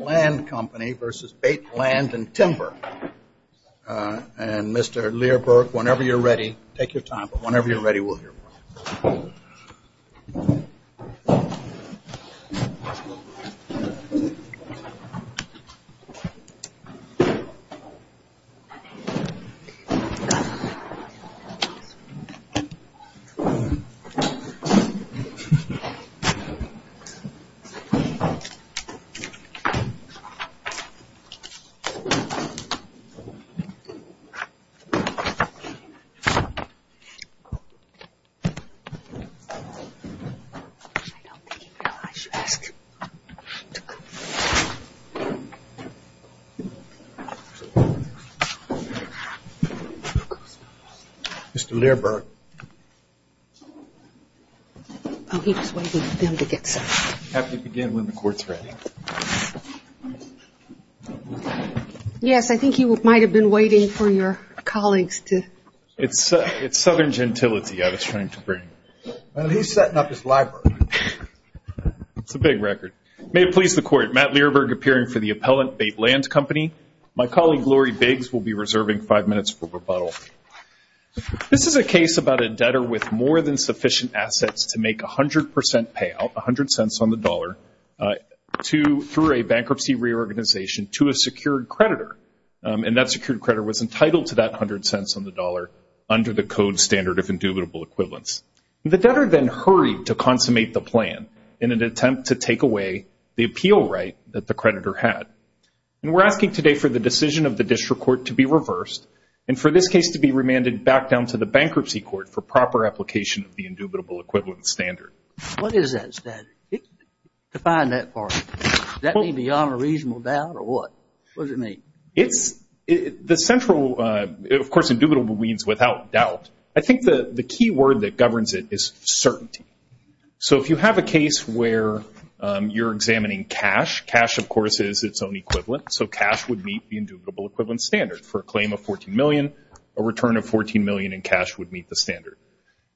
Land Company versus Bate Land & Timber and Mr. Learberg whenever you're ready take your time but whenever you're ready we'll hear from you. I don't think he realized you asked him to come. Mr. Learberg. Yes, I think you might have been waiting for your colleagues to. It's southern gentility I was trying to bring. Well, he's setting up his library. It's a big record. May it please the court, Matt Learberg appearing for the appellant, Bate Land Company. My colleague, Lori Biggs, will be reserving five minutes for rebuttal. This is a case about a debtor with more than sufficient assets to make 100% payout, a hundred cents on the dollar, through a bankruptcy reorganization to a secured creditor. And that secured creditor was entitled to that hundred cents on the dollar under the code standard of indubitable equivalence. The debtor then hurried to consummate the plan in an attempt to take away the appeal right that the creditor had. And we're asking today for the decision of the district court to be reversed. And for this case to be remanded back down to the bankruptcy court for proper application of the indubitable equivalence standard. What is that standard? Define that part. Does that mean beyond a reasonable doubt or what? What does it mean? The central, of course, indubitable means without doubt. I think the key word that governs it is certainty. So if you have a case where you're examining cash, cash, of course, is its own equivalent. So cash would meet the indubitable equivalent standard for a claim of $14 million, a return of $14 million, and cash would meet the standard.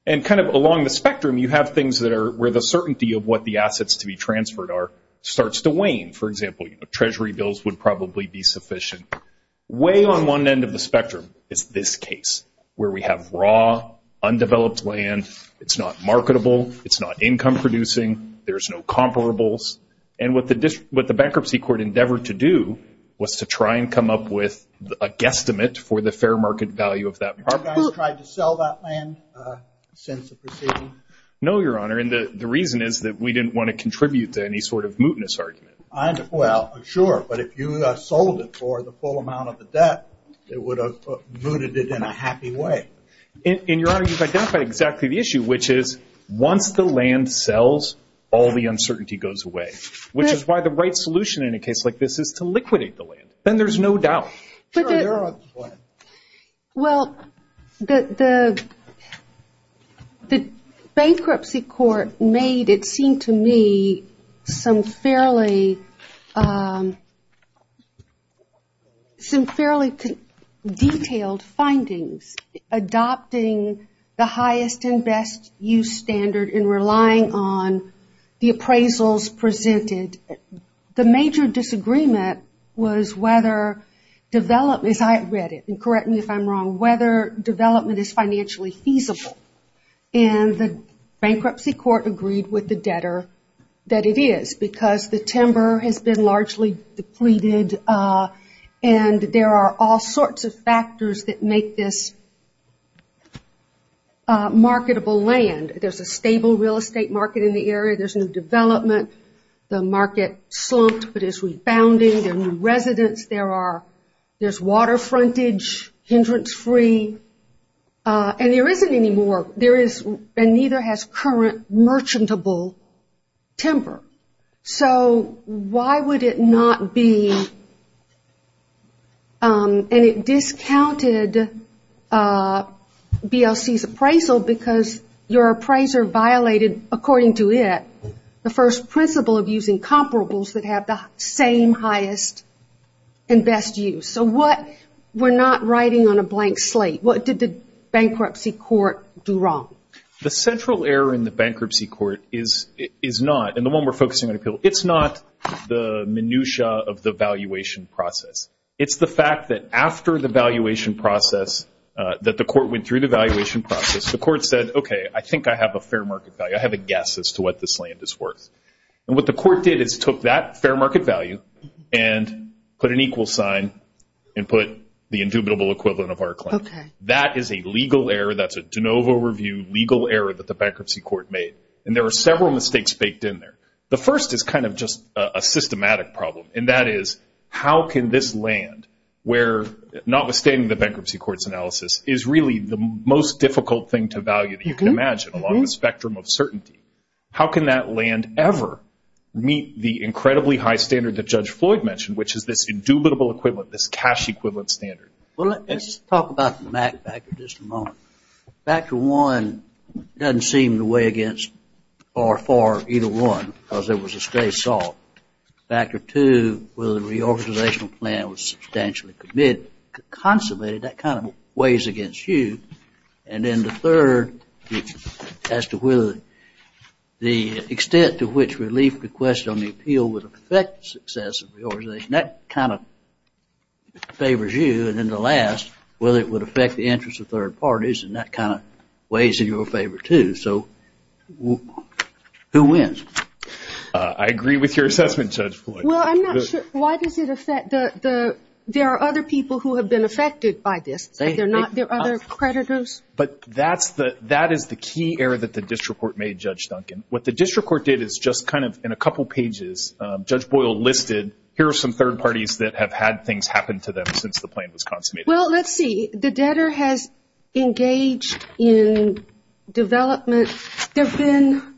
And kind of along the spectrum, you have things that are where the certainty of what the assets to be transferred are starts to wane. For example, treasury bills would probably be sufficient. Way on one end of the spectrum is this case where we have raw, undeveloped land. It's not marketable. It's not income producing. There's no comparables. And what the bankruptcy court endeavored to do was to try and come up with a guesstimate for the fair market value of that property. Have you guys tried to sell that land since the proceeding? No, Your Honor. And the reason is that we didn't want to contribute to any sort of mootness argument. Well, sure. But if you sold it for the full amount of the debt, it would have mooted it in a happy way. And, Your Honor, you've identified exactly the issue, which is once the land sells, all the uncertainty goes away, which is why the right solution in a case like this is to liquidate the land. Then there's no doubt. Sure. Your Honor. Go ahead. Well, the bankruptcy court made, it seemed to me, some fairly detailed findings adopting the highest and best use standard and relying on the appraisals presented. The major disagreement was whether development, as I read it, and correct me if I'm wrong, whether development is financially feasible. And the bankruptcy court agreed with the debtor that it is because the timber has been largely depleted, and there are all sorts of factors that make this marketable land. There's a stable real estate market in the area. There's new development. The market slumped, but is rebounding. There are new residents. There's water frontage, hindrance-free, and there isn't any more, and neither has current merchantable timber. So why would it not be, and it discounted BLC's appraisal because your appraiser violated, according to it, the first principle of using comparables that have the same highest and best use. So what, we're not writing on a blank slate. What did the bankruptcy court do wrong? The central error in the bankruptcy court is not, and the one we're focusing on appeal, it's not the minutia of the valuation process. It's the fact that after the valuation process, that the court went through the valuation process, the court said, okay, I think I have a fair market value. I have a guess as to what this land is worth. And what the court did is took that fair market value and put an equal sign and put the indubitable equivalent of our claim. That is a legal error. That's a de novo review, legal error that the bankruptcy court made, and there are several mistakes baked in there. The first is kind of just a systematic problem, and that is, how can this land, where not withstanding the bankruptcy court's analysis, is really the most difficult thing to value that you can imagine along the spectrum of certainty. How can that land ever meet the incredibly high standard that Judge Floyd mentioned, which is this indubitable equivalent, this cash equivalent standard? Well, let's talk about the MAC factor just a moment. Factor one doesn't seem to weigh against or for either one, because there was a stray salt. Factor two, whether the reorganizational plan was substantially committed, consummated, that kind of weighs against you. And then the third, as to whether the extent to which relief requests on the appeal would affect the success of the organization, that kind of favors you. And then the last, whether it would affect the interests of third parties, and that kind of weighs in your favor, too. So who wins? I agree with your assessment, Judge Floyd. Well, I'm not sure, why does it affect the, there are other people who have been affected by this. There are other creditors? But that is the key error that the district court made, Judge Duncan. What the district court did is just kind of, in a couple pages, Judge Boyle listed, here are some third parties that have had things happen to them since the plan was consummated. Well, let's see. The debtor has engaged in development, there have been,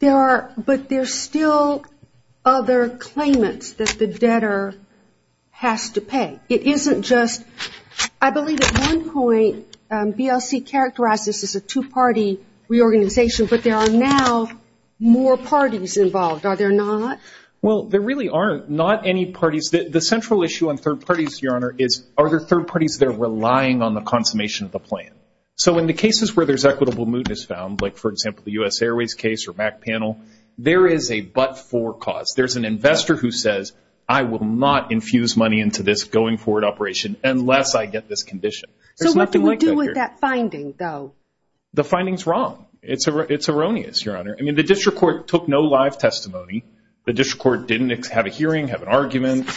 there are, but there are still other claimants that the debtor has to pay. It isn't just, I believe at one point, BLC characterized this as a two-party reorganization, but there are now more parties involved. Are there not? Well, there really are not any parties. The central issue on third parties, Your Honor, is are there third parties that are relying on the consummation of the plan? So in the cases where there's equitable mootness found, like, for example, the US Airways case or MAC panel, there is a but-for cause. There's an investor who says, I will not infuse money into this going forward operation unless I get this condition. There's nothing like that here. So what do we do with that finding, though? The finding's wrong. It's erroneous, Your Honor. I mean, the district court took no live testimony. The district court didn't have a hearing, have an argument.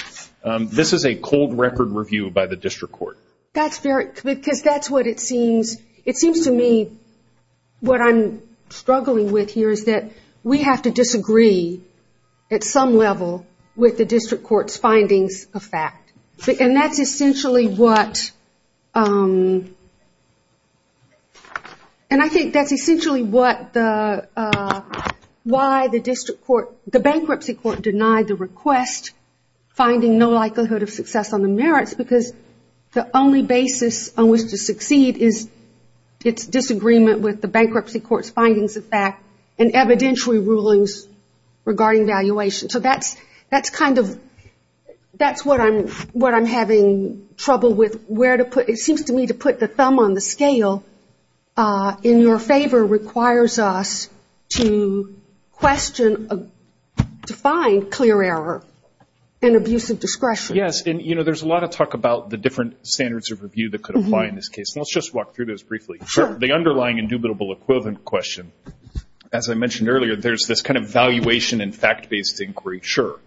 This is a cold record review by the district court. That's very, because that's what it seems, it seems to me, what I'm struggling with here is that we have to disagree at some level with the district court's findings of fact. And that's essentially what, and I think that's essentially what the, why the district court, the bankruptcy court denied the request, finding no likelihood of success on the merits because the only basis on which to succeed is its disagreement with the bankruptcy court's findings of fact and evidentiary rulings regarding valuation. So that's, that's kind of, that's what I'm, what I'm having trouble with, where to put, it seems to me to put the thumb on the scale in your favor requires us to question, to find clear error and abuse of discretion. Yes, and you know, there's a lot of talk about the different standards of review that could apply in this case. And let's just walk through those briefly. Sure. So the underlying indubitable equivalent question, as I mentioned earlier, there's this kind of valuation and fact-based inquiry, sure.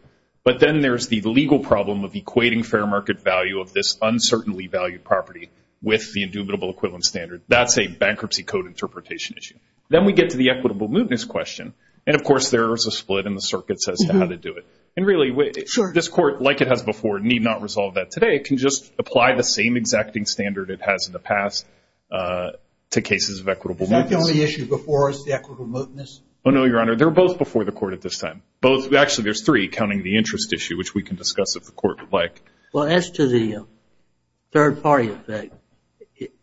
But then there's the legal problem of equating fair market value of this uncertainly valued property with the indubitable equivalent standard. That's a bankruptcy code interpretation issue. Then we get to the equitable mootness question, and of course there is a split in the circuits as to how to do it. And really, this court, like it has before, need not resolve that today, it can just apply the same exacting standard it has in the past to cases of equitable mootness. Is that the only issue before us, the equitable mootness? Oh no, Your Honor. They're both before the court at this time. Both, actually there's three, counting the interest issue, which we can discuss if the court would like. Well, as to the third party effect,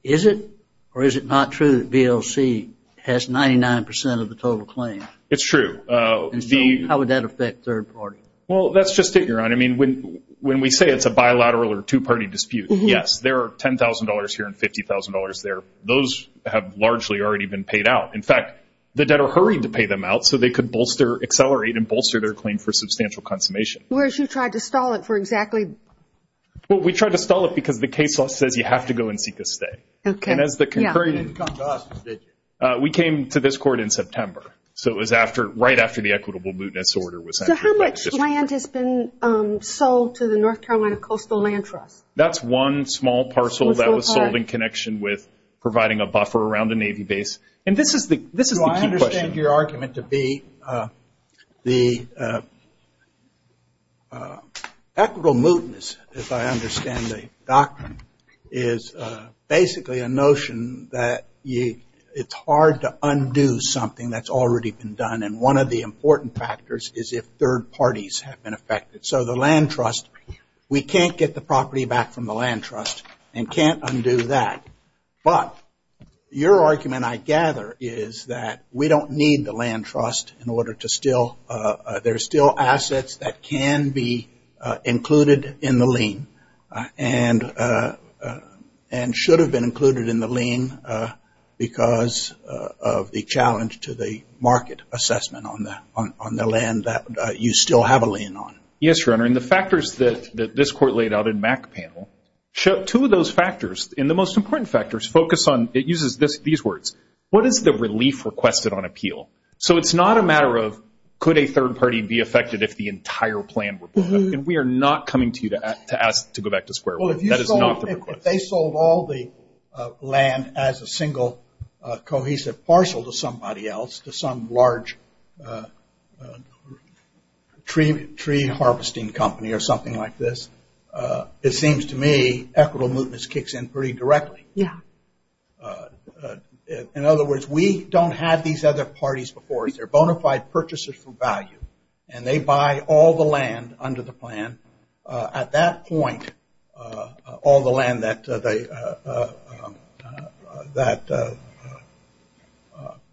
is it or is it not true that VLC has 99% of the total claim? It's true. And so how would that affect third party? Well, that's just it, Your Honor. I mean, when we say it's a bilateral or two-party dispute, yes, there are $10,000 here and $50,000 there. Those have largely already been paid out. In fact, the debtor hurried to pay them out so they could bolster, accelerate, and bolster their claim for substantial consummation. Whereas you tried to stall it for exactly? Well, we tried to stall it because the case law says you have to go and seek a stay. Okay. And as the concurring... Yeah. You didn't come to us, did you? We came to this court in September. So it was right after the equitable mootness order was entered. So how much land has been sold to the North Carolina Coastal Land Trust? That's one small parcel that was sold in connection with providing a buffer around the Navy base. And this is the key question. Well, I understand your argument to be the equitable mootness, if I understand the doctrine, is basically a notion that it's hard to undo something that's already been done. And one of the important factors is if third parties have been affected. So the land trust, we can't get the property back from the land trust and can't undo that. But your argument, I gather, is that we don't need the land trust in order to still... There's still assets that can be included in the lien and should have been included in the lien because of the challenge to the market assessment on the land that you still have a lien on. Yes, Your Honor. And the factors that this court laid out in Mac panel, two of those factors, and the most important factors focus on... It uses these words. What is the relief requested on appeal? So it's not a matter of could a third party be affected if the entire plan were booked up. And we are not coming to you to ask to go back to square one. That is not the request. If they sold all the land as a single cohesive parcel to somebody else, to some large tree harvesting company or something like this, it seems to me equitable mootness kicks in pretty directly. Yeah. In other words, we don't have these other parties before us. They're bona fide purchasers for value. And they buy all the land under the plan. And at that point, all the land that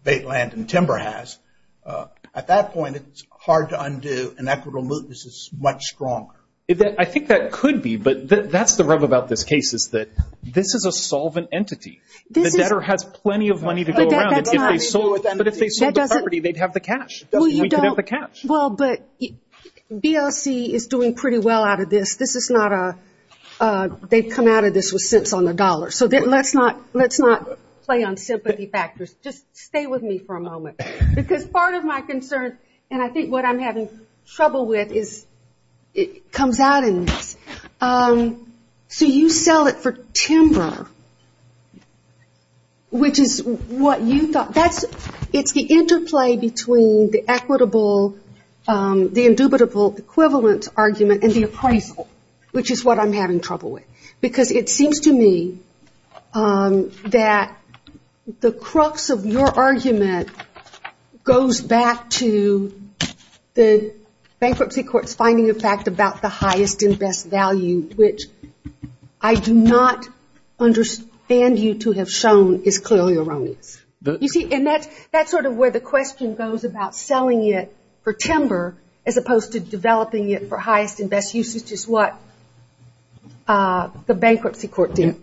bait land and timber has, at that point, it's hard to undo and equitable mootness is much stronger. I think that could be, but that's the rub about this case is that this is a solvent entity. The debtor has plenty of money to go around, but if they sold the property, they'd have the cash. We could have the cash. Well, but BLC is doing pretty well out of this. This is not a, they've come out of this with cents on the dollar. So let's not play on sympathy factors. Just stay with me for a moment. Because part of my concern, and I think what I'm having trouble with is, it comes out in this. So you sell it for timber, which is what you thought. It's the interplay between the equitable, the indubitable equivalent argument and the appraisal, which is what I'm having trouble with. Because it seems to me that the crux of your argument goes back to the bankruptcy court's finding of fact about the highest and best value, which I do not understand you to have shown is clearly erroneous. You see, and that's sort of where the question goes about selling it for timber as opposed to developing it for highest and best usage is what the bankruptcy court did.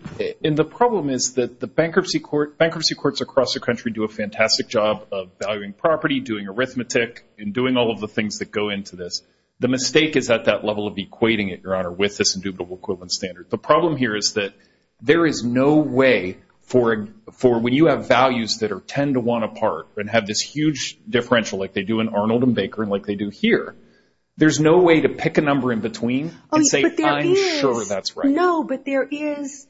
And the problem is that the bankruptcy courts across the country do a fantastic job of valuing property, doing arithmetic, and doing all of the things that go into this. The mistake is at that level of equating it, Your Honor, with this indubitable equivalent standard. The problem here is that there is no way for, when you have values that are ten to one apart and have this huge differential like they do in Arnold and Baker and like they do here, there's no way to pick a number in between and say, I'm sure that's right. No, but there is,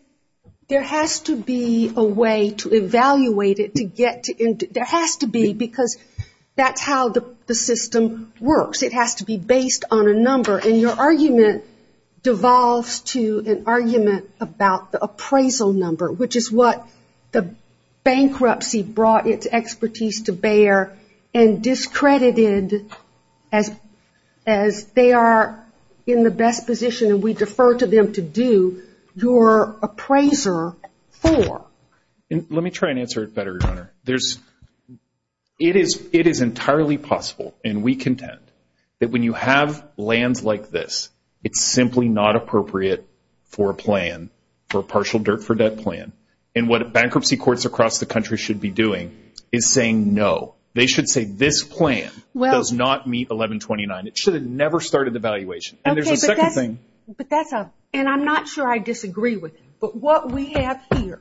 there has to be a way to evaluate it to get to, there has to be because that's how the system works. It has to be based on a number and your argument devolves to an argument about the appraisal number, which is what the bankruptcy brought its expertise to bear and discredited as they are in the best position, and we defer to them to do, your appraiser for. Let me try and answer it better, Your Honor. There's, it is entirely possible, and we contend, that when you have lands like this, it's simply not appropriate for a plan, for a partial dirt for debt plan, and what bankruptcy courts across the country should be doing is saying no. They should say this plan does not meet 1129. It should have never started the valuation, and there's a second thing. But that's a, and I'm not sure I disagree with you. But what we have here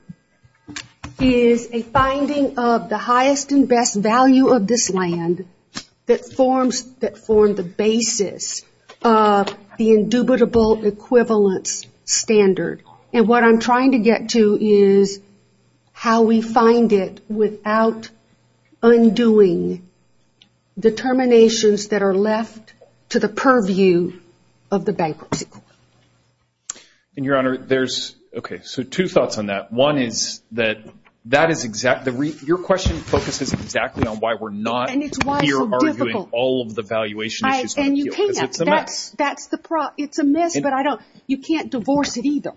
is a finding of the highest and best value of this land that forms, that formed the basis of the indubitable equivalence standard. And what I'm trying to get to is how we find it without undoing determinations that are left to the purview of the bankruptcy court. And, Your Honor, there's, okay, so two thoughts on that. One is that, that is exactly, your question focuses exactly on why we're not here arguing all of the valuation issues, because it's a mess. That's the problem. It's a mess, but I don't, you can't divorce it either.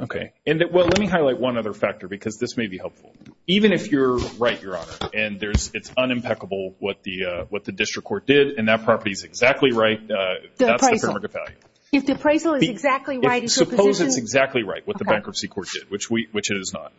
Okay. And, well, let me highlight one other factor, because this may be helpful. Even if you're right, Your Honor, and there's, it's unimpeccable what the, what the district court did, and that property is exactly right, that's the fair market value. If the appraisal is exactly right, is your position? Suppose it's exactly right, what the bankruptcy court did, which we, which it is not.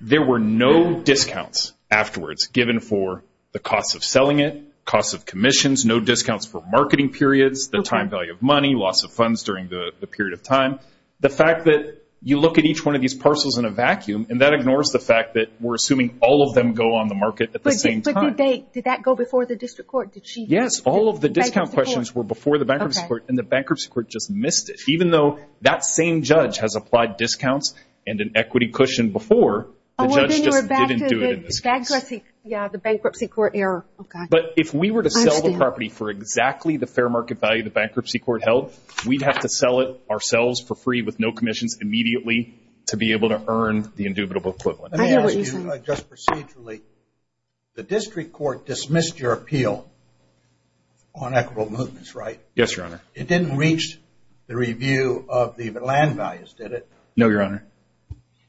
There were no discounts afterwards given for the cost of selling it, cost of commissions, no discounts for marketing periods, the time value of money, loss of funds during the period of time. The fact that you look at each one of these parcels in a vacuum, and that ignores the fact that we're assuming all of them go on the market at the same time. But did they, did that go before the district court? Did she? Yes. All of the discount questions were before the bankruptcy court, and the bankruptcy court just missed it. Even though that same judge has applied discounts and an equity cushion before, the judge just didn't do it in this case. Oh, well, then you're back to the bankruptcy, yeah, the bankruptcy court error. Oh, God. I understand. But if we were to sell the property for exactly the fair market value the bankruptcy court held, we'd have to sell it ourselves for free with no commissions immediately to be able to earn the indubitable equivalent. I know what you're saying. Just procedurally, the district court dismissed your appeal on equitable movements, right? Yes, Your Honor. It didn't reach the review of the land values, did it? No, Your Honor.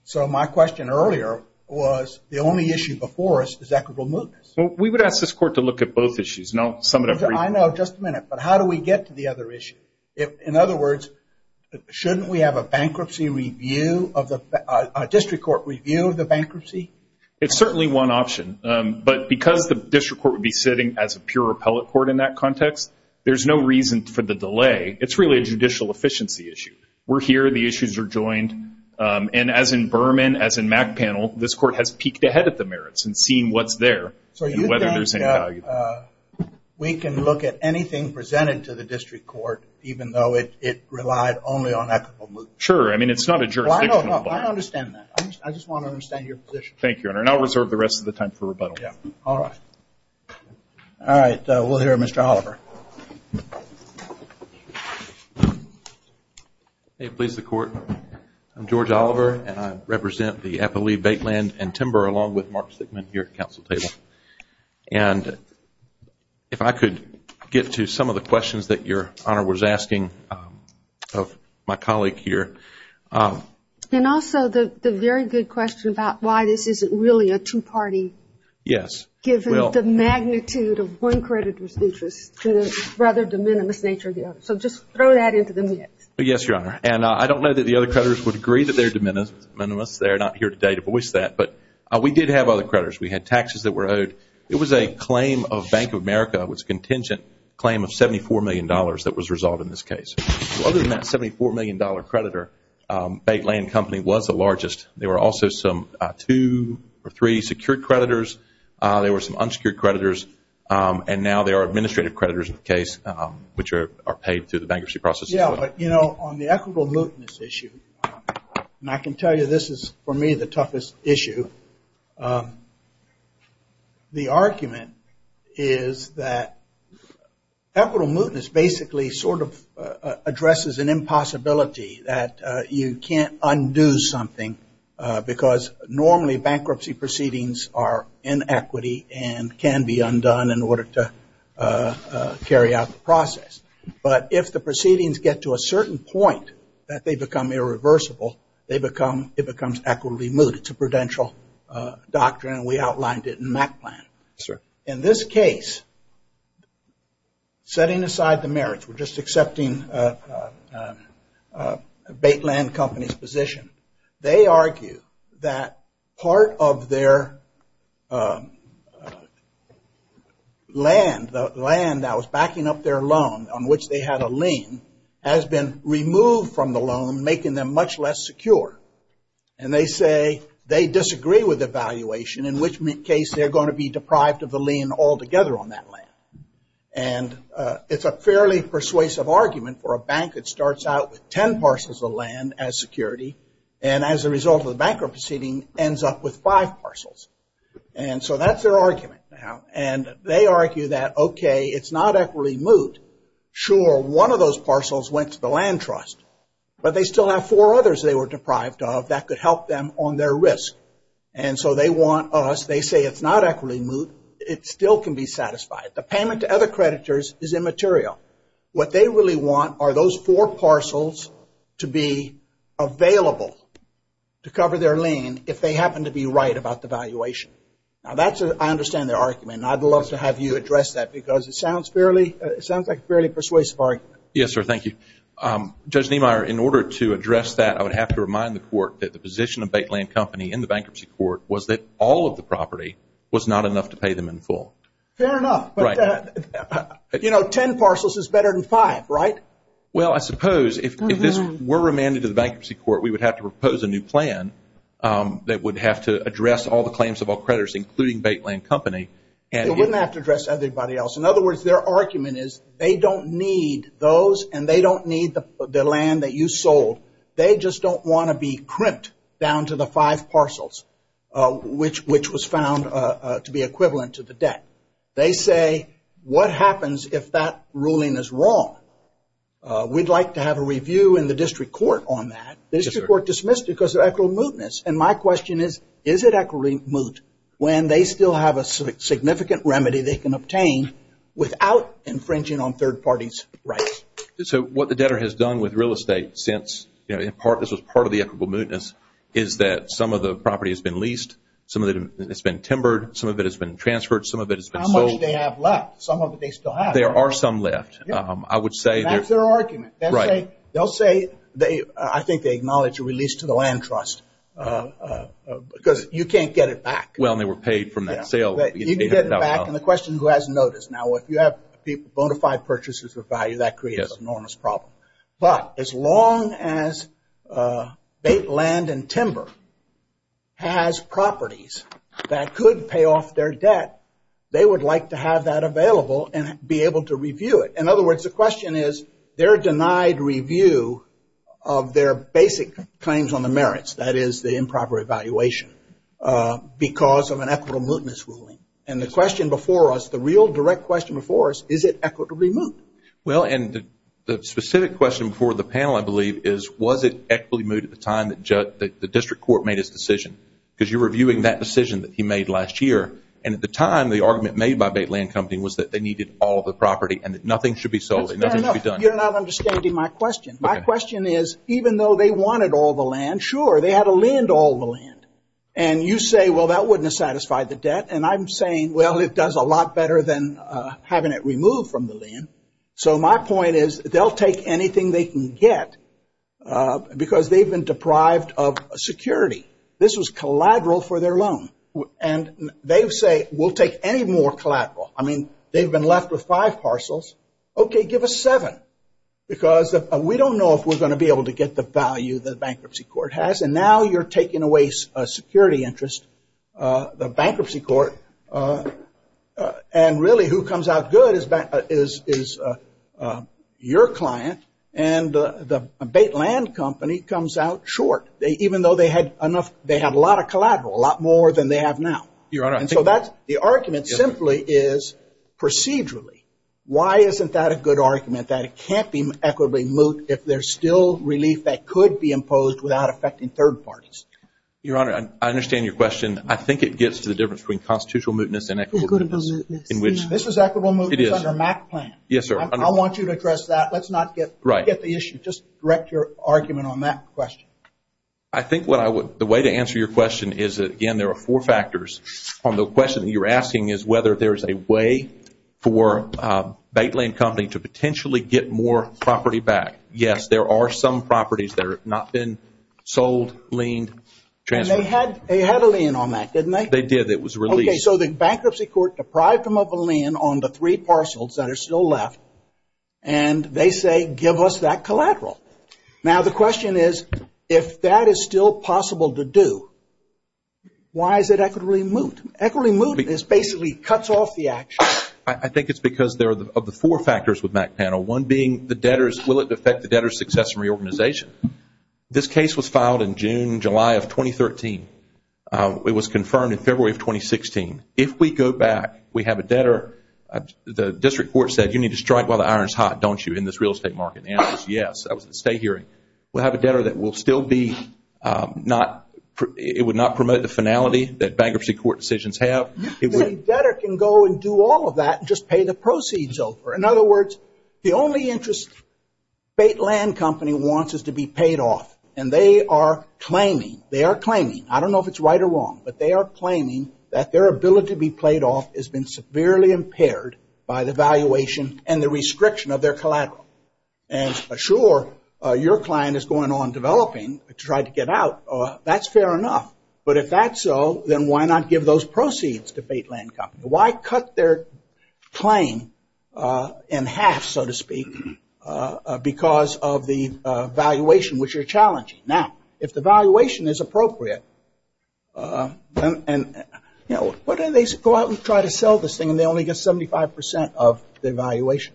So my question earlier was, the only issue before us is equitable movements. We would ask this court to look at both issues, and I'll sum it up briefly. I know. Just a minute. But how do we get to the other issue? In other words, shouldn't we have a bankruptcy review, a district court review of the bankruptcy? It's certainly one option. But because the district court would be sitting as a pure appellate court in that context, there's no reason for the delay. It's really a judicial efficiency issue. We're here. The issues are joined. And as in Berman, as in Mack panel, this court has peeked ahead at the merits and seen what's there and whether there's any value. So we can look at anything presented to the district court, even though it relied only on equitable movements? Sure. I mean, it's not a jurisdictional. I understand that. I just want to understand your position. Thank you, Your Honor. And I'll reserve the rest of the time for rebuttal. Yeah. All right. All right. We'll hear Mr. Oliver. May it please the Court, I'm George Oliver, and I represent the Appellee Bait Land and Timber along with Mark Sickman here at Council Table. And if I could get to some of the questions that Your Honor was asking of my colleague here. And also the very good question about why this isn't really a two-party given the magnitude of one creditor's interest to the rather de minimis nature of the other. So just throw that into the mix. Yes, Your Honor. And I don't know that the other creditors would agree that they're de minimis. They're not here today to voice that. But we did have other creditors. We had taxes that were owed. It was a claim of Bank of America, it was a contingent claim of $74 million that was resolved in this case. So other than that $74 million creditor, Bait Land Company was the largest. There were also some two or three secured creditors, there were some unsecured creditors, and now there are administrative creditors in the case which are paid through the bankruptcy process as well. Yeah, but you know, on the equitable mootness issue, and I can tell you this is for me the argument is that equitable mootness basically sort of addresses an impossibility that you can't undo something because normally bankruptcy proceedings are inequity and can be undone in order to carry out the process. But if the proceedings get to a certain point that they become irreversible, it becomes equitably moot. It's a prudential doctrine and we outlined it in MAC plan. In this case, setting aside the merits, we're just accepting Bait Land Company's position, they argue that part of their land, the land that was backing up their loan on which they had a lien, has been removed from the loan making them much less secure. And they say they disagree with the valuation in which case they're going to be deprived of the lien altogether on that land. And it's a fairly persuasive argument for a bank that starts out with ten parcels of land as security and as a result of the bankruptcy proceeding ends up with five parcels. And so that's their argument now. And they argue that, okay, it's not equitably moot, sure, one of those parcels went to the them on their risk. And so they want us, they say it's not equitably moot, it still can be satisfied. The payment to other creditors is immaterial. What they really want are those four parcels to be available to cover their lien if they happen to be right about the valuation. Now that's, I understand their argument and I'd love to have you address that because it sounds fairly, it sounds like a fairly persuasive argument. Yes, sir. Thank you. Judge Niemeyer, in order to address that I would have to remind the court that the position of Baitland Company in the bankruptcy court was that all of the property was not enough to pay them in full. Fair enough. Right. But, you know, ten parcels is better than five, right? Well, I suppose if this were remanded to the bankruptcy court we would have to propose a new plan that would have to address all the claims of all creditors including Baitland Company. It wouldn't have to address everybody else. In other words, their argument is they don't need those and they don't need the land that you sold. They just don't want to be crimped down to the five parcels which was found to be equivalent to the debt. They say, what happens if that ruling is wrong? We'd like to have a review in the district court on that. Yes, sir. The district court dismissed it because of equitable mootness. And my question is, is it equitable moot when they still have a significant remedy they can obtain without infringing on third parties' rights? So what the debtor has done with real estate since, you know, this was part of the equitable mootness is that some of the property has been leased, some of it has been timbered, some of it has been transferred, some of it has been sold. How much do they have left? Some of it they still have. There are some left. I would say... That's their argument. Right. They'll say, I think they acknowledge a release to the land trust because you can't get it back. Well, and they were paid from that sale. You can get it back. And the question is, who has notice? Now, if you have bona fide purchases of value, that creates an enormous problem. But as long as Bait, Land, and Timber has properties that could pay off their debt, they would like to have that available and be able to review it. In other words, the question is, they're denied review of their basic claims on the merits, that is, the improper evaluation, because of an equitable mootness ruling. And the question before us, the real direct question before us, is it equitably moot? Well, and the specific question before the panel, I believe, is was it equitably moot at the time that the district court made its decision? Because you're reviewing that decision that he made last year. And at the time, the argument made by Bait, Land, and Company was that they needed all of the property and that nothing should be sold, and nothing should be done. That's fair enough. You're not understanding my question. My question is, even though they wanted all the land, sure, they had to lend all the land. And you say, well, that wouldn't have satisfied the debt. And I'm saying, well, it does a lot better than having it removed from the land. So my point is, they'll take anything they can get, because they've been deprived of security. This was collateral for their loan. And they say, we'll take any more collateral. I mean, they've been left with five parcels, okay, give us seven. Because we don't know if we're going to be able to get the value the bankruptcy court has. And now, you're taking away a security interest, the bankruptcy court. And really, who comes out good is your client. And the Bait, Land, and Company comes out short, even though they had a lot of collateral, a lot more than they have now. Your Honor, I think the argument simply is procedurally. Why isn't that a good argument, that it can't be equitably moot if there's still relief that could be imposed without affecting third parties? Your Honor, I understand your question. I think it gets to the difference between constitutional mootness and equitable mootness. This is equitable mootness under MAC plan. Yes, sir. I want you to address that. Let's not get the issue. Just direct your argument on that question. I think the way to answer your question is, again, there are four factors. On the question that you're asking is whether there's a way for Bait, Land, and Company to potentially get more property back. Yes, there are some properties that have not been sold, leaned, transferred. And they had a lien on that, didn't they? They did. It was released. Okay. So the bankruptcy court deprived them of a lien on the three parcels that are still left, and they say, give us that collateral. Now the question is, if that is still possible to do, why is it equitably moot? Equitably mootness basically cuts off the action. I think it's because of the four factors with MAC panel, one being the debtors. Will it affect the debtor's success in reorganization? This case was filed in June, July of 2013. It was confirmed in February of 2016. If we go back, we have a debtor. The district court said, you need to strike while the iron is hot, don't you, in this real estate market. The answer is yes. That was at the state hearing. We'll have a debtor that will still be not, it would not promote the finality that bankruptcy court decisions have. A debtor can go and do all of that and just pay the proceeds over. In other words, the only interest Baitland Company wants is to be paid off. And they are claiming, they are claiming, I don't know if it's right or wrong, but they are claiming that their ability to be paid off has been severely impaired by the valuation and the restriction of their collateral. And sure, your client is going on developing to try to get out. That's fair enough. But if that's so, then why not give those proceeds to Baitland Company? Why cut their claim in half, so to speak, because of the valuation, which are challenging? Now, if the valuation is appropriate, why don't they go out and try to sell this thing and they only get 75% of the valuation?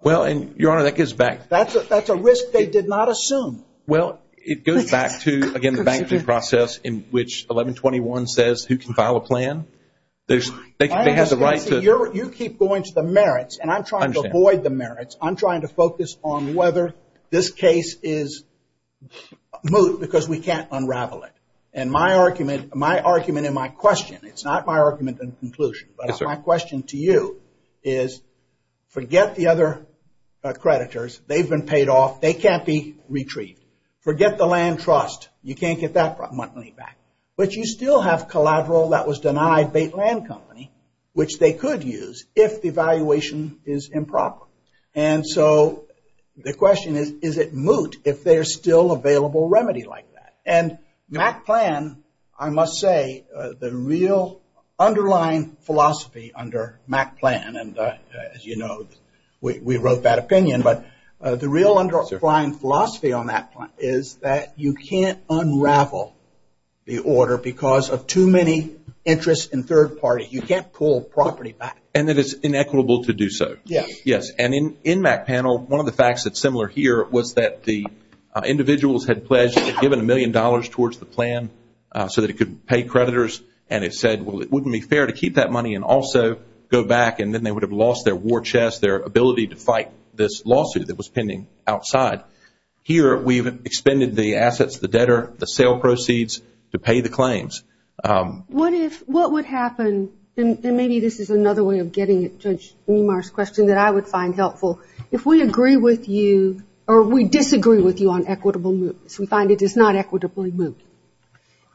Well, and your honor, that gives back. That's a risk they did not assume. Well, it goes back to, again, the bankruptcy process in which 1121 says who can file a plan. They have the right to. You keep going to the merits and I'm trying to avoid the merits. I'm trying to focus on whether this case is moot because we can't unravel it. And my argument, my argument and my question, it's not my argument and conclusion, but my question to you is forget the other creditors. They've been paid off. They can't be retrieved. Forget the land trust. You can't get that money back. But you still have collateral that was denied Bait Land Company, which they could use if the valuation is improper. And so the question is, is it moot if there's still available remedy like that? And MAC plan, I must say, the real underlying philosophy under MAC plan, and as you know, we wrote that opinion, but the real underlying philosophy on that plan is that you can't reorder because of too many interests in third party. You can't pull property back. And that it's inequitable to do so. Yes. Yes. And in MAC panel, one of the facts that's similar here was that the individuals had pledged and given a million dollars towards the plan so that it could pay creditors. And it said, well, it wouldn't be fair to keep that money and also go back. And then they would have lost their war chest, their ability to fight this lawsuit that was pending outside. Here, we've expended the assets, the debtor, the sale proceeds to pay the claims. What if, what would happen, and maybe this is another way of getting at Judge Niemeyer's question that I would find helpful. If we agree with you, or we disagree with you on equitable moot, we find it is not equitably moot,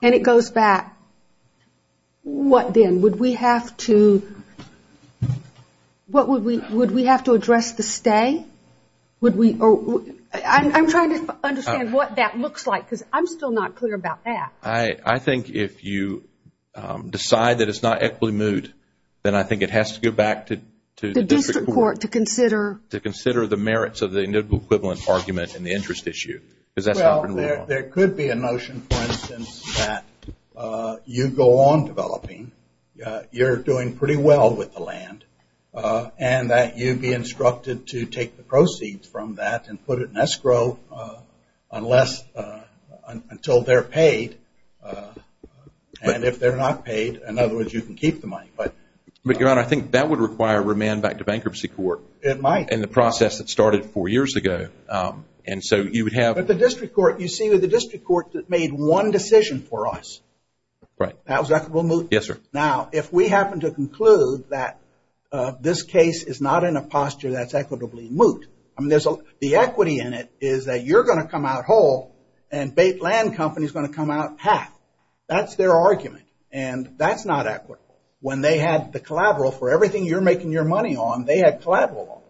and it goes back, what then? Would we have to, what would we, would we have to address the stay? Would we, or, I'm trying to understand what that looks like, because I'm still not clear about that. I think if you decide that it's not equitably moot, then I think it has to go back to the district court. To the district court to consider. To consider the merits of the equivalent argument and the interest issue, because that's not going to work. Well, there could be a notion, for instance, that you go on developing, you're doing pretty well with the land, and that you'd be instructed to take the proceeds from that and put it in escrow unless, until they're paid, and if they're not paid, in other words, you can keep the money, but. But, Your Honor, I think that would require remand back to bankruptcy court. It might. In the process that started four years ago, and so you would have. But the district court, you see that the district court made one decision for us. Right. That was equitable moot. Yes, sir. Now, if we happen to conclude that this case is not in a posture that's equitably moot, I mean, there's a, the equity in it is that you're going to come out whole, and Bait Land Company is going to come out half. That's their argument, and that's not equitable. When they had the collateral for everything you're making your money on, they had collateral on it.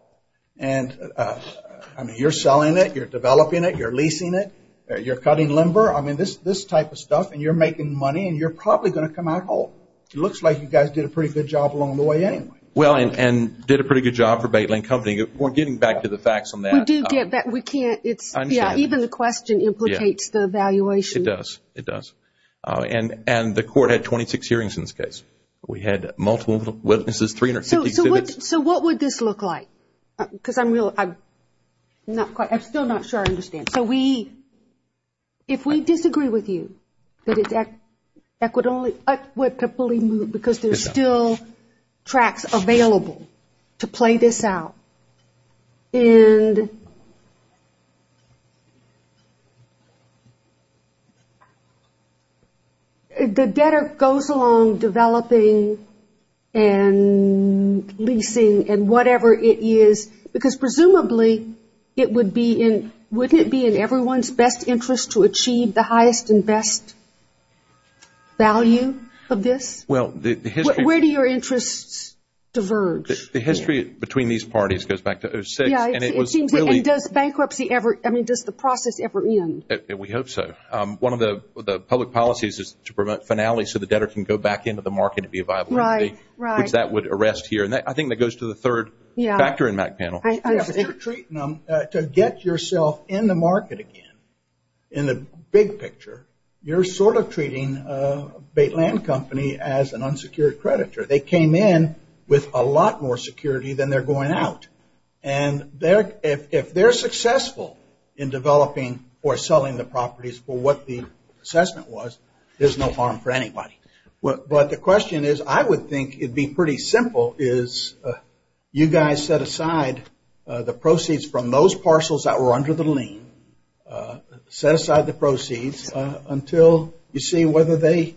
And, I mean, you're selling it, you're developing it, you're leasing it, you're cutting limber, I mean, this type of stuff, and you're making money, and you're probably going to come out whole. It looks like you guys did a pretty good job along the way anyway. Well, and did a pretty good job for Bait Land Company. We're getting back to the facts on that. We do get back. We can't. It's, yeah, even the question implicates the evaluation. It does. It does. And the court had 26 hearings in this case. We had multiple witnesses, 350 exhibits. So what would this look like? Because I'm real, I'm not quite, I'm still not sure I understand. So we, if we disagree with you, that it's equitably moved, because there's still tracks available to play this out, and the debtor goes along developing and leasing and whatever it is, because presumably it would be in, wouldn't it be in everyone's best interest to achieve the highest and best value of this? Well, the history... Where do your interests diverge? The history between these parties goes back to 2006, and it was really... Yeah, it seems, and does bankruptcy ever, I mean, does the process ever end? We hope so. One of the public policies is to promote finality so the debtor can go back into the market and be a viable entity. Right, right. Which that would arrest here. And I think that goes to the third factor in that panel. Yeah. If you're treating them, to get yourself in the market again, in the big picture, you're sort of treating a bait land company as an unsecured creditor. They came in with a lot more security than they're going out. And if they're successful in developing or selling the properties for what the assessment was, there's no harm for anybody. But the question is, I would think it'd be pretty simple is you guys set aside the proceeds from those parcels that were under the lien, set aside the proceeds until you see whether they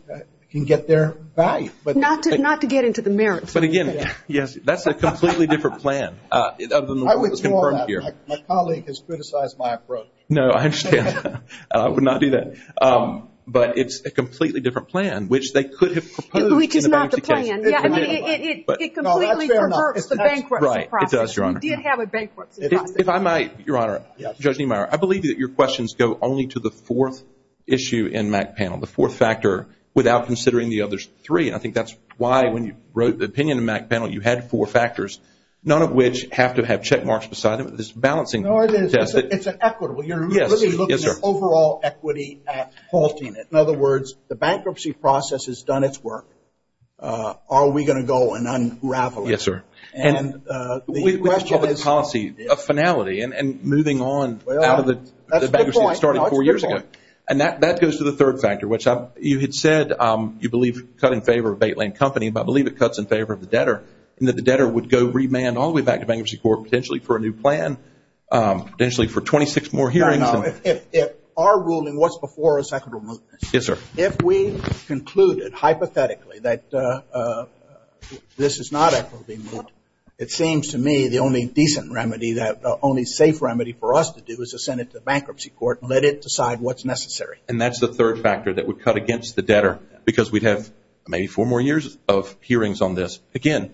can get their value. Not to get into the merits. But again, yes, that's a completely different plan. I would ignore that. My colleague has criticized my approach. No, I understand. I would not do that. But it's a completely different plan, which they could have proposed in a bankruptcy case. Which is not the plan. Yeah. I mean, it completely perverts the bankruptcy process. No, that's fair enough. Right. It does, Your Honor. Do you have a bankruptcy process? If I might, Your Honor. Yes. Judge Niemeyer, I believe that your questions go only to the fourth issue in MAC panel, the fourth factor, without considering the others three. And I think that's why when you wrote the opinion in MAC panel, you had four factors, none of which have to have check marks beside them. This balancing test. No, it is. It's an equitable. Yes. Yes, sir. We're really looking at overall equity at halting it. In other words, the bankruptcy process has done its work. Are we going to go and unravel it? Yes, sir. And the question is. We have a policy, a finality, and moving on out of the bankruptcy that started four years ago. Well, that's the point. That's the point. And that goes to the third factor, which you had said you believe cut in favor of Bait Lane Company, but I believe it cuts in favor of the debtor, and that the debtor would go remand all the way back to bankruptcy court, potentially for a new plan, potentially for 26 more hearings. No, if our ruling, what's before is equitable mootness. Yes, sir. If we concluded, hypothetically, that this is not equitably moot, it seems to me the only decent remedy, the only safe remedy for us to do is to send it to the bankruptcy court and let it decide what's necessary. And that's the third factor that would cut against the debtor, because we'd have maybe four more years of hearings on this. Again,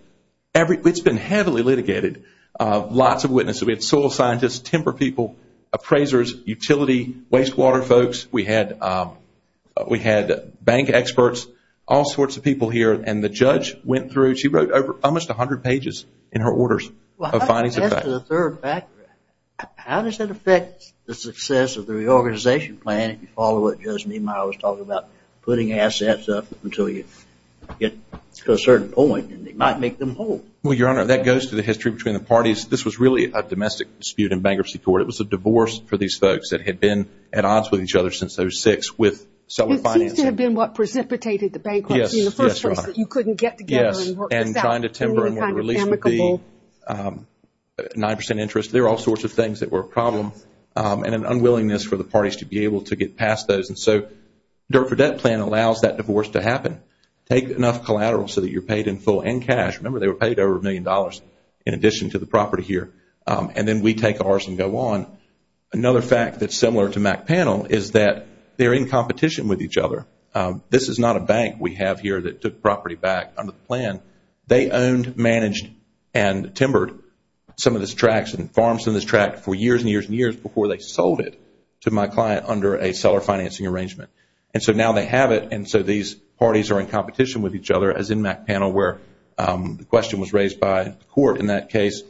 it's been heavily litigated. Lots of witnesses. We had soil scientists, timber people, appraisers, utility, wastewater folks. We had bank experts, all sorts of people here. And the judge went through, she wrote over almost 100 pages in her orders of findings of that. Well, that's the third factor. How does that affect the success of the reorganization plan if you follow what Judge Meemeyer was talking about, putting assets up until you get to a certain point, and it might make them whole? Well, Your Honor, that goes to the history between the parties. This was really a domestic dispute in bankruptcy court. It was a divorce for these folks that had been at odds with each other since they were six with self-financing. It seems to have been what precipitated the bankruptcy in the first place, that you couldn't get together and work this out. Yes. And trying to timber a new release would be 9% interest. There are all sorts of things that were a problem and an unwillingness for the parties to be able to get past those. And so the Dirt for Debt plan allows that divorce to happen. Take enough collateral so that you're paid in full and cash. Remember, they were paid over a million dollars in addition to the property here. And then we take ours and go on. Another fact that's similar to McPanel is that they're in competition with each other. This is not a bank we have here that took property back under the plan. They owned, managed, and timbered some of these tracts and farms in this tract for years and years and years before they sold it to my client under a seller financing arrangement. And so now they have it, and so these parties are in competition with each other as in McPanel where the question was raised by the court in that case.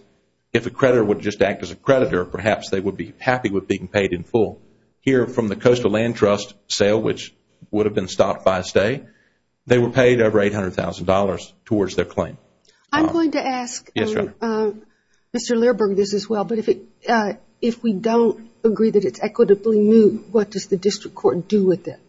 If a creditor would just act as a creditor, perhaps they would be happy with being paid in full. Here from the Coastal Land Trust sale, which would have been stopped by a stay, they were paid over $800,000 towards their claim. I'm going to ask Mr. Learberg this as well, but if we don't agree that it's equitably moved, what does the district court do with it?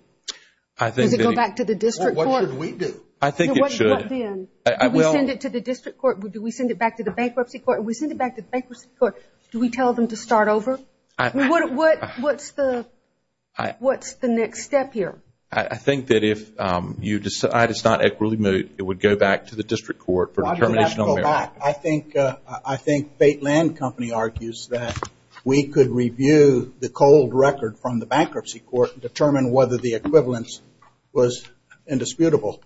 I think... Does it go back to the district court? What should we do? I think it should. What then? Do we send it to the district court? Do we send it back to the bankruptcy court? If we send it back to the bankruptcy court, do we tell them to start over? What's the next step here? I think that if you decide it's not equitably moved, it would go back to the district court for determination of merit. whether the equivalence was indisputable.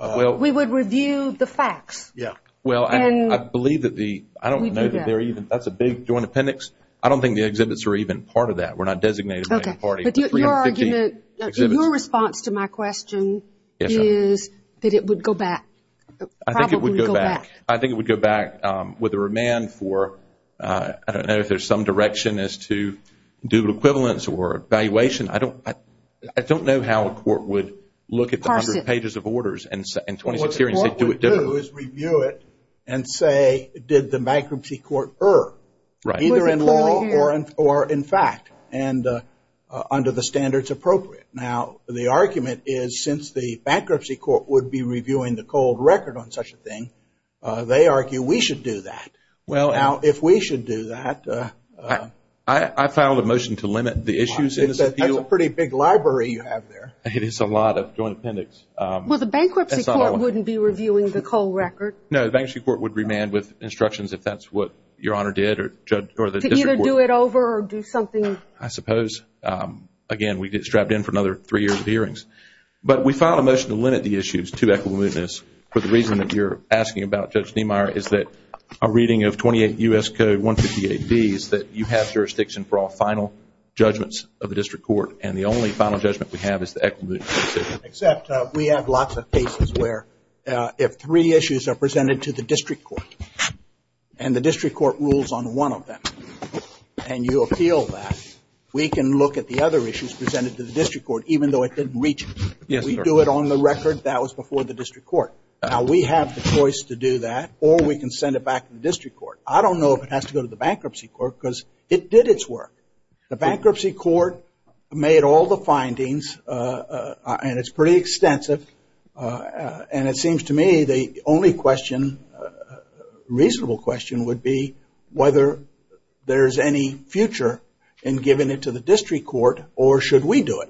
We would review the facts. Yeah. Well, I believe that the... We do that. I don't know that they're even... That's a big joint appendix. I don't think the exhibits are even part of that. We're not designated by any party. But your argument... The 350 exhibits... Your response to my question... Yes, ma'am. ...is that it would go back. Probably go back. I think it would go back. I think it would go back with a remand for, I don't know if there's some direction as to dual equivalence or evaluation. I don't know how a court would look at the 100 pages of orders and 26 hearings and do it differently. What the court would do is review it and say, did the bankruptcy court err, either in law or in fact, and under the standards appropriate. Now, the argument is since the bankruptcy court would be reviewing the cold record on such a thing, they argue we should do that. Well... Now, if we should do that... I filed a motion to limit the issues in this appeal. That's a pretty big library you have there. It is a lot of joint appendix. Well, the bankruptcy court wouldn't be reviewing the cold record. No, the bankruptcy court would remand with instructions if that's what your honor did or the district court. To either do it over or do something... I suppose. Again, we'd get strapped in for another three years of hearings. But we filed a motion to limit the issues to equivalentness for the reason that you're asking about, Judge Niemeyer, is that a reading of 28 U.S. Code 158B is that you have jurisdiction for all final judgments of the district court and the only final judgment we have is the equivalent decision. Except we have lots of cases where if three issues are presented to the district court and the district court rules on one of them and you appeal that, we can look at the other issues presented to the district court even though it didn't reach it. Yes, sir. We do it on the record. That was before the district court. Now, we have the choice to do that or we can send it back to the district court. I don't know if it has to go to the bankruptcy court because it did its work. The bankruptcy court made all the findings and it's pretty extensive and it seems to me the only question, reasonable question, would be whether there's any future in giving it to the district court or should we do it?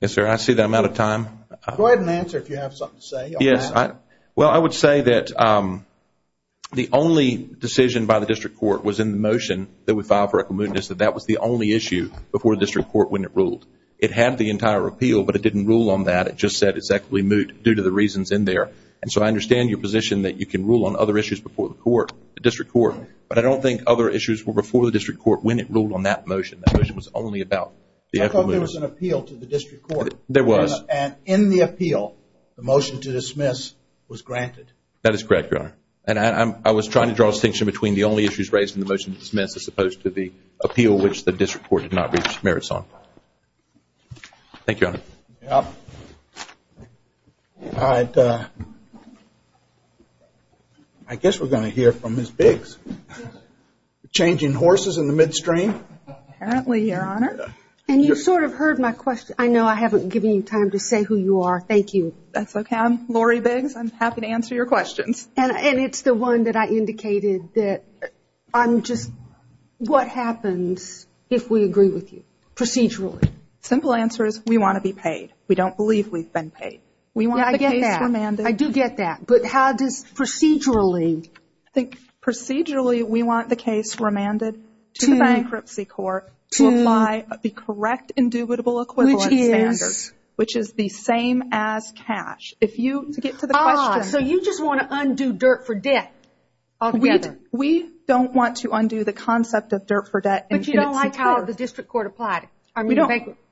Yes, sir. I see that I'm out of time. Go ahead and answer if you have something to say. Yes. Well, I would say that the only decision by the district court was in the motion that we filed for equitable mootness, that that was the only issue before the district court when it ruled. It had the entire appeal but it didn't rule on that. It just said it's equitably moot due to the reasons in there and so I understand your position that you can rule on other issues before the court, the district court, but I don't think other issues were before the district court when it ruled on that motion. That motion was only about the equitable mootness. I thought there was an appeal to the district court. There was. And in the appeal, the motion to dismiss was granted. That is correct, Your Honor. And I was trying to draw a distinction between the only issues raised in the motion to dismiss as opposed to the appeal which the district court did not reach merits on. Thank you, Your Honor. All right. I guess we're going to hear from Ms. Biggs. Changing horses in the midstream. Apparently, Your Honor. And you sort of heard my question. I know I haven't given you time to say who you are. Thank you. That's okay. I'm Lori Biggs. I'm happy to answer your questions. And it's the one that I indicated that I'm just, what happens if we agree with you procedurally? Simple answer is we want to be paid. We don't believe we've been paid. We want the case remanded. Yeah, I get that. I do get that. But how does procedurally? I think procedurally, we want the case remanded to the bankruptcy court to apply the correct indubitable equivalent standards, which is the same as cash. If you, to get to the question. Ah, so you just want to undo dirt for debt altogether. We don't want to undo the concept of dirt for debt. But you don't like how the district court applied it. I mean, the bankruptcy.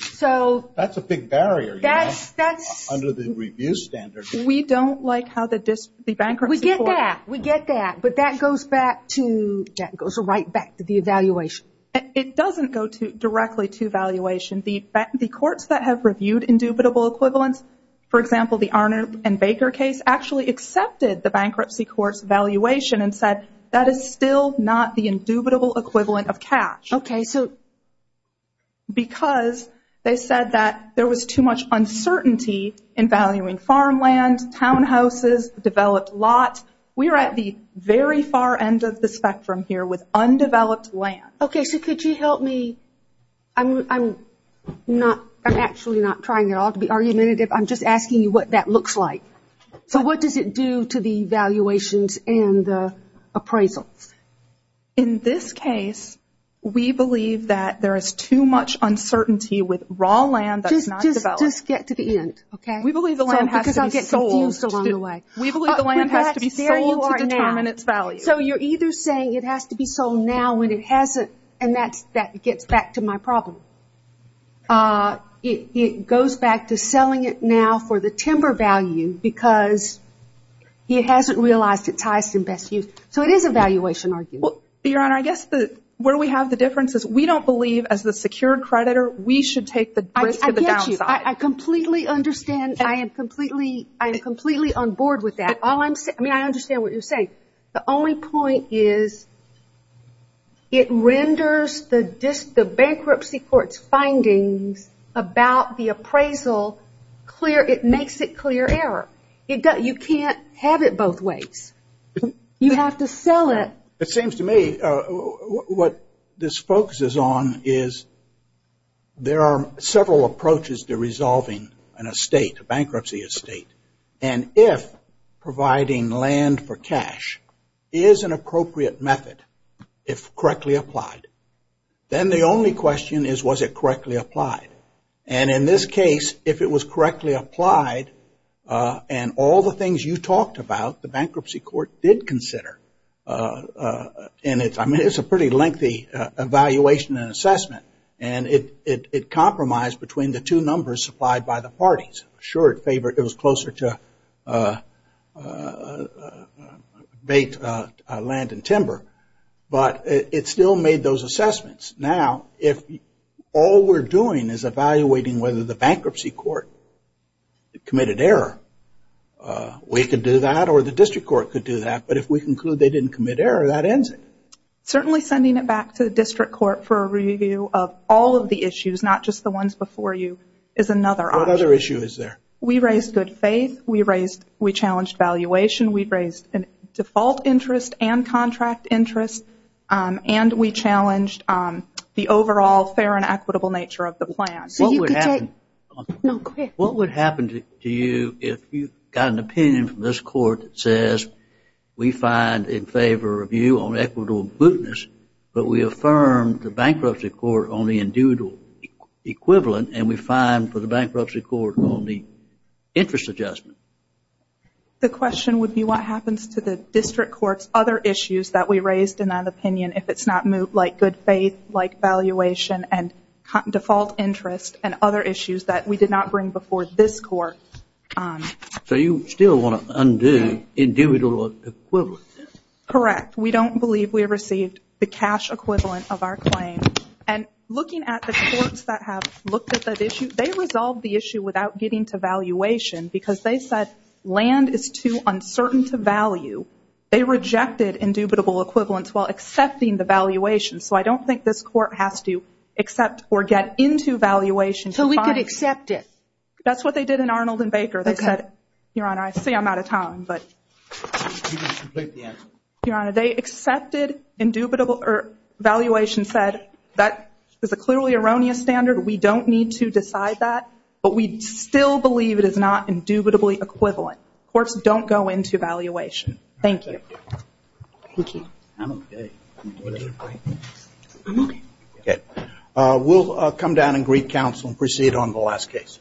So that's a big barrier, you know, under the review standards. We don't like how the bankruptcy court. We get that. We get that. But that goes back to, that goes right back to the evaluation. It doesn't go directly to valuation. The courts that have reviewed indubitable equivalents, for example, the Arnold and Baker case actually accepted the bankruptcy court's valuation and said that is still not the indubitable equivalent of cash. Okay, so. Because they said that there was too much uncertainty in valuing farmland, townhouses, developed lots. We are at the very far end of the spectrum here with undeveloped land. Okay, so could you help me? I'm not, I'm actually not trying at all to be argumentative. I'm just asking you what that looks like. So what does it do to the valuations and the appraisals? In this case, we believe that there is too much uncertainty with raw land that's not developed. Just get to the end, okay? We believe the land has to be sold. Because I'm getting confused along the way. We believe the land has to be sold to determine its value. And so you're either saying it has to be sold now when it hasn't, and that gets back to my problem. It goes back to selling it now for the timber value because it hasn't realized its highest and best use. So it is a valuation argument. Your Honor, I guess where we have the difference is we don't believe as the secured creditor we should take the risk of the downside. I get you. I completely understand. I am completely on board with that. I mean, I understand what you're saying. The only point is it renders the bankruptcy court's findings about the appraisal clear. It makes it clear error. You can't have it both ways. You have to sell it. It seems to me what this focuses on is there are several approaches to resolving an estate, a bankruptcy estate. And if providing land for cash is an appropriate method, if correctly applied, then the only question is was it correctly applied. And in this case, if it was correctly applied and all the things you talked about the bankruptcy court did consider, and it's a pretty lengthy evaluation and assessment, and it compromised between the two numbers supplied by the parties. Sure, it was closer to bait, land, and timber, but it still made those assessments. Now if all we're doing is evaluating whether the bankruptcy court committed error, we could do that or the district court could do that. But if we conclude they didn't commit error, that ends it. Certainly sending it back to the district court for a review of all of the issues, not just the ones before you, is another option. What other issues is there? We raised good faith. We challenged valuation. We raised default interest and contract interest. And we challenged the overall fair and equitable nature of the plan. What would happen to you if you got an opinion from this court that says we find in favor of you on equitable goodness, but we affirm the bankruptcy court on the individual equivalent, and we fine for the bankruptcy court on the interest adjustment? The question would be what happens to the district court's other issues that we raised in that opinion if it's not moved, like good faith, like valuation, and default interest, and other issues that we did not bring before this court. So you still want to undo individual equivalence? Correct. We don't believe we received the cash equivalent of our claim. And looking at the courts that have looked at that issue, they resolved the issue without getting to valuation, because they said land is too uncertain to value. They rejected indubitable equivalence while accepting the valuation. So I don't think this court has to accept or get into valuation to find it. So we could accept it? That's what they did in Arnold and Baker. They said, Your Honor, I see I'm out of time. But Your Honor, they accepted valuation said, that is a clearly erroneous standard. We don't need to decide that. But we still believe it is not indubitably equivalent. Courts don't go into valuation. Thank you. We'll come down and greet counsel and proceed on the last case.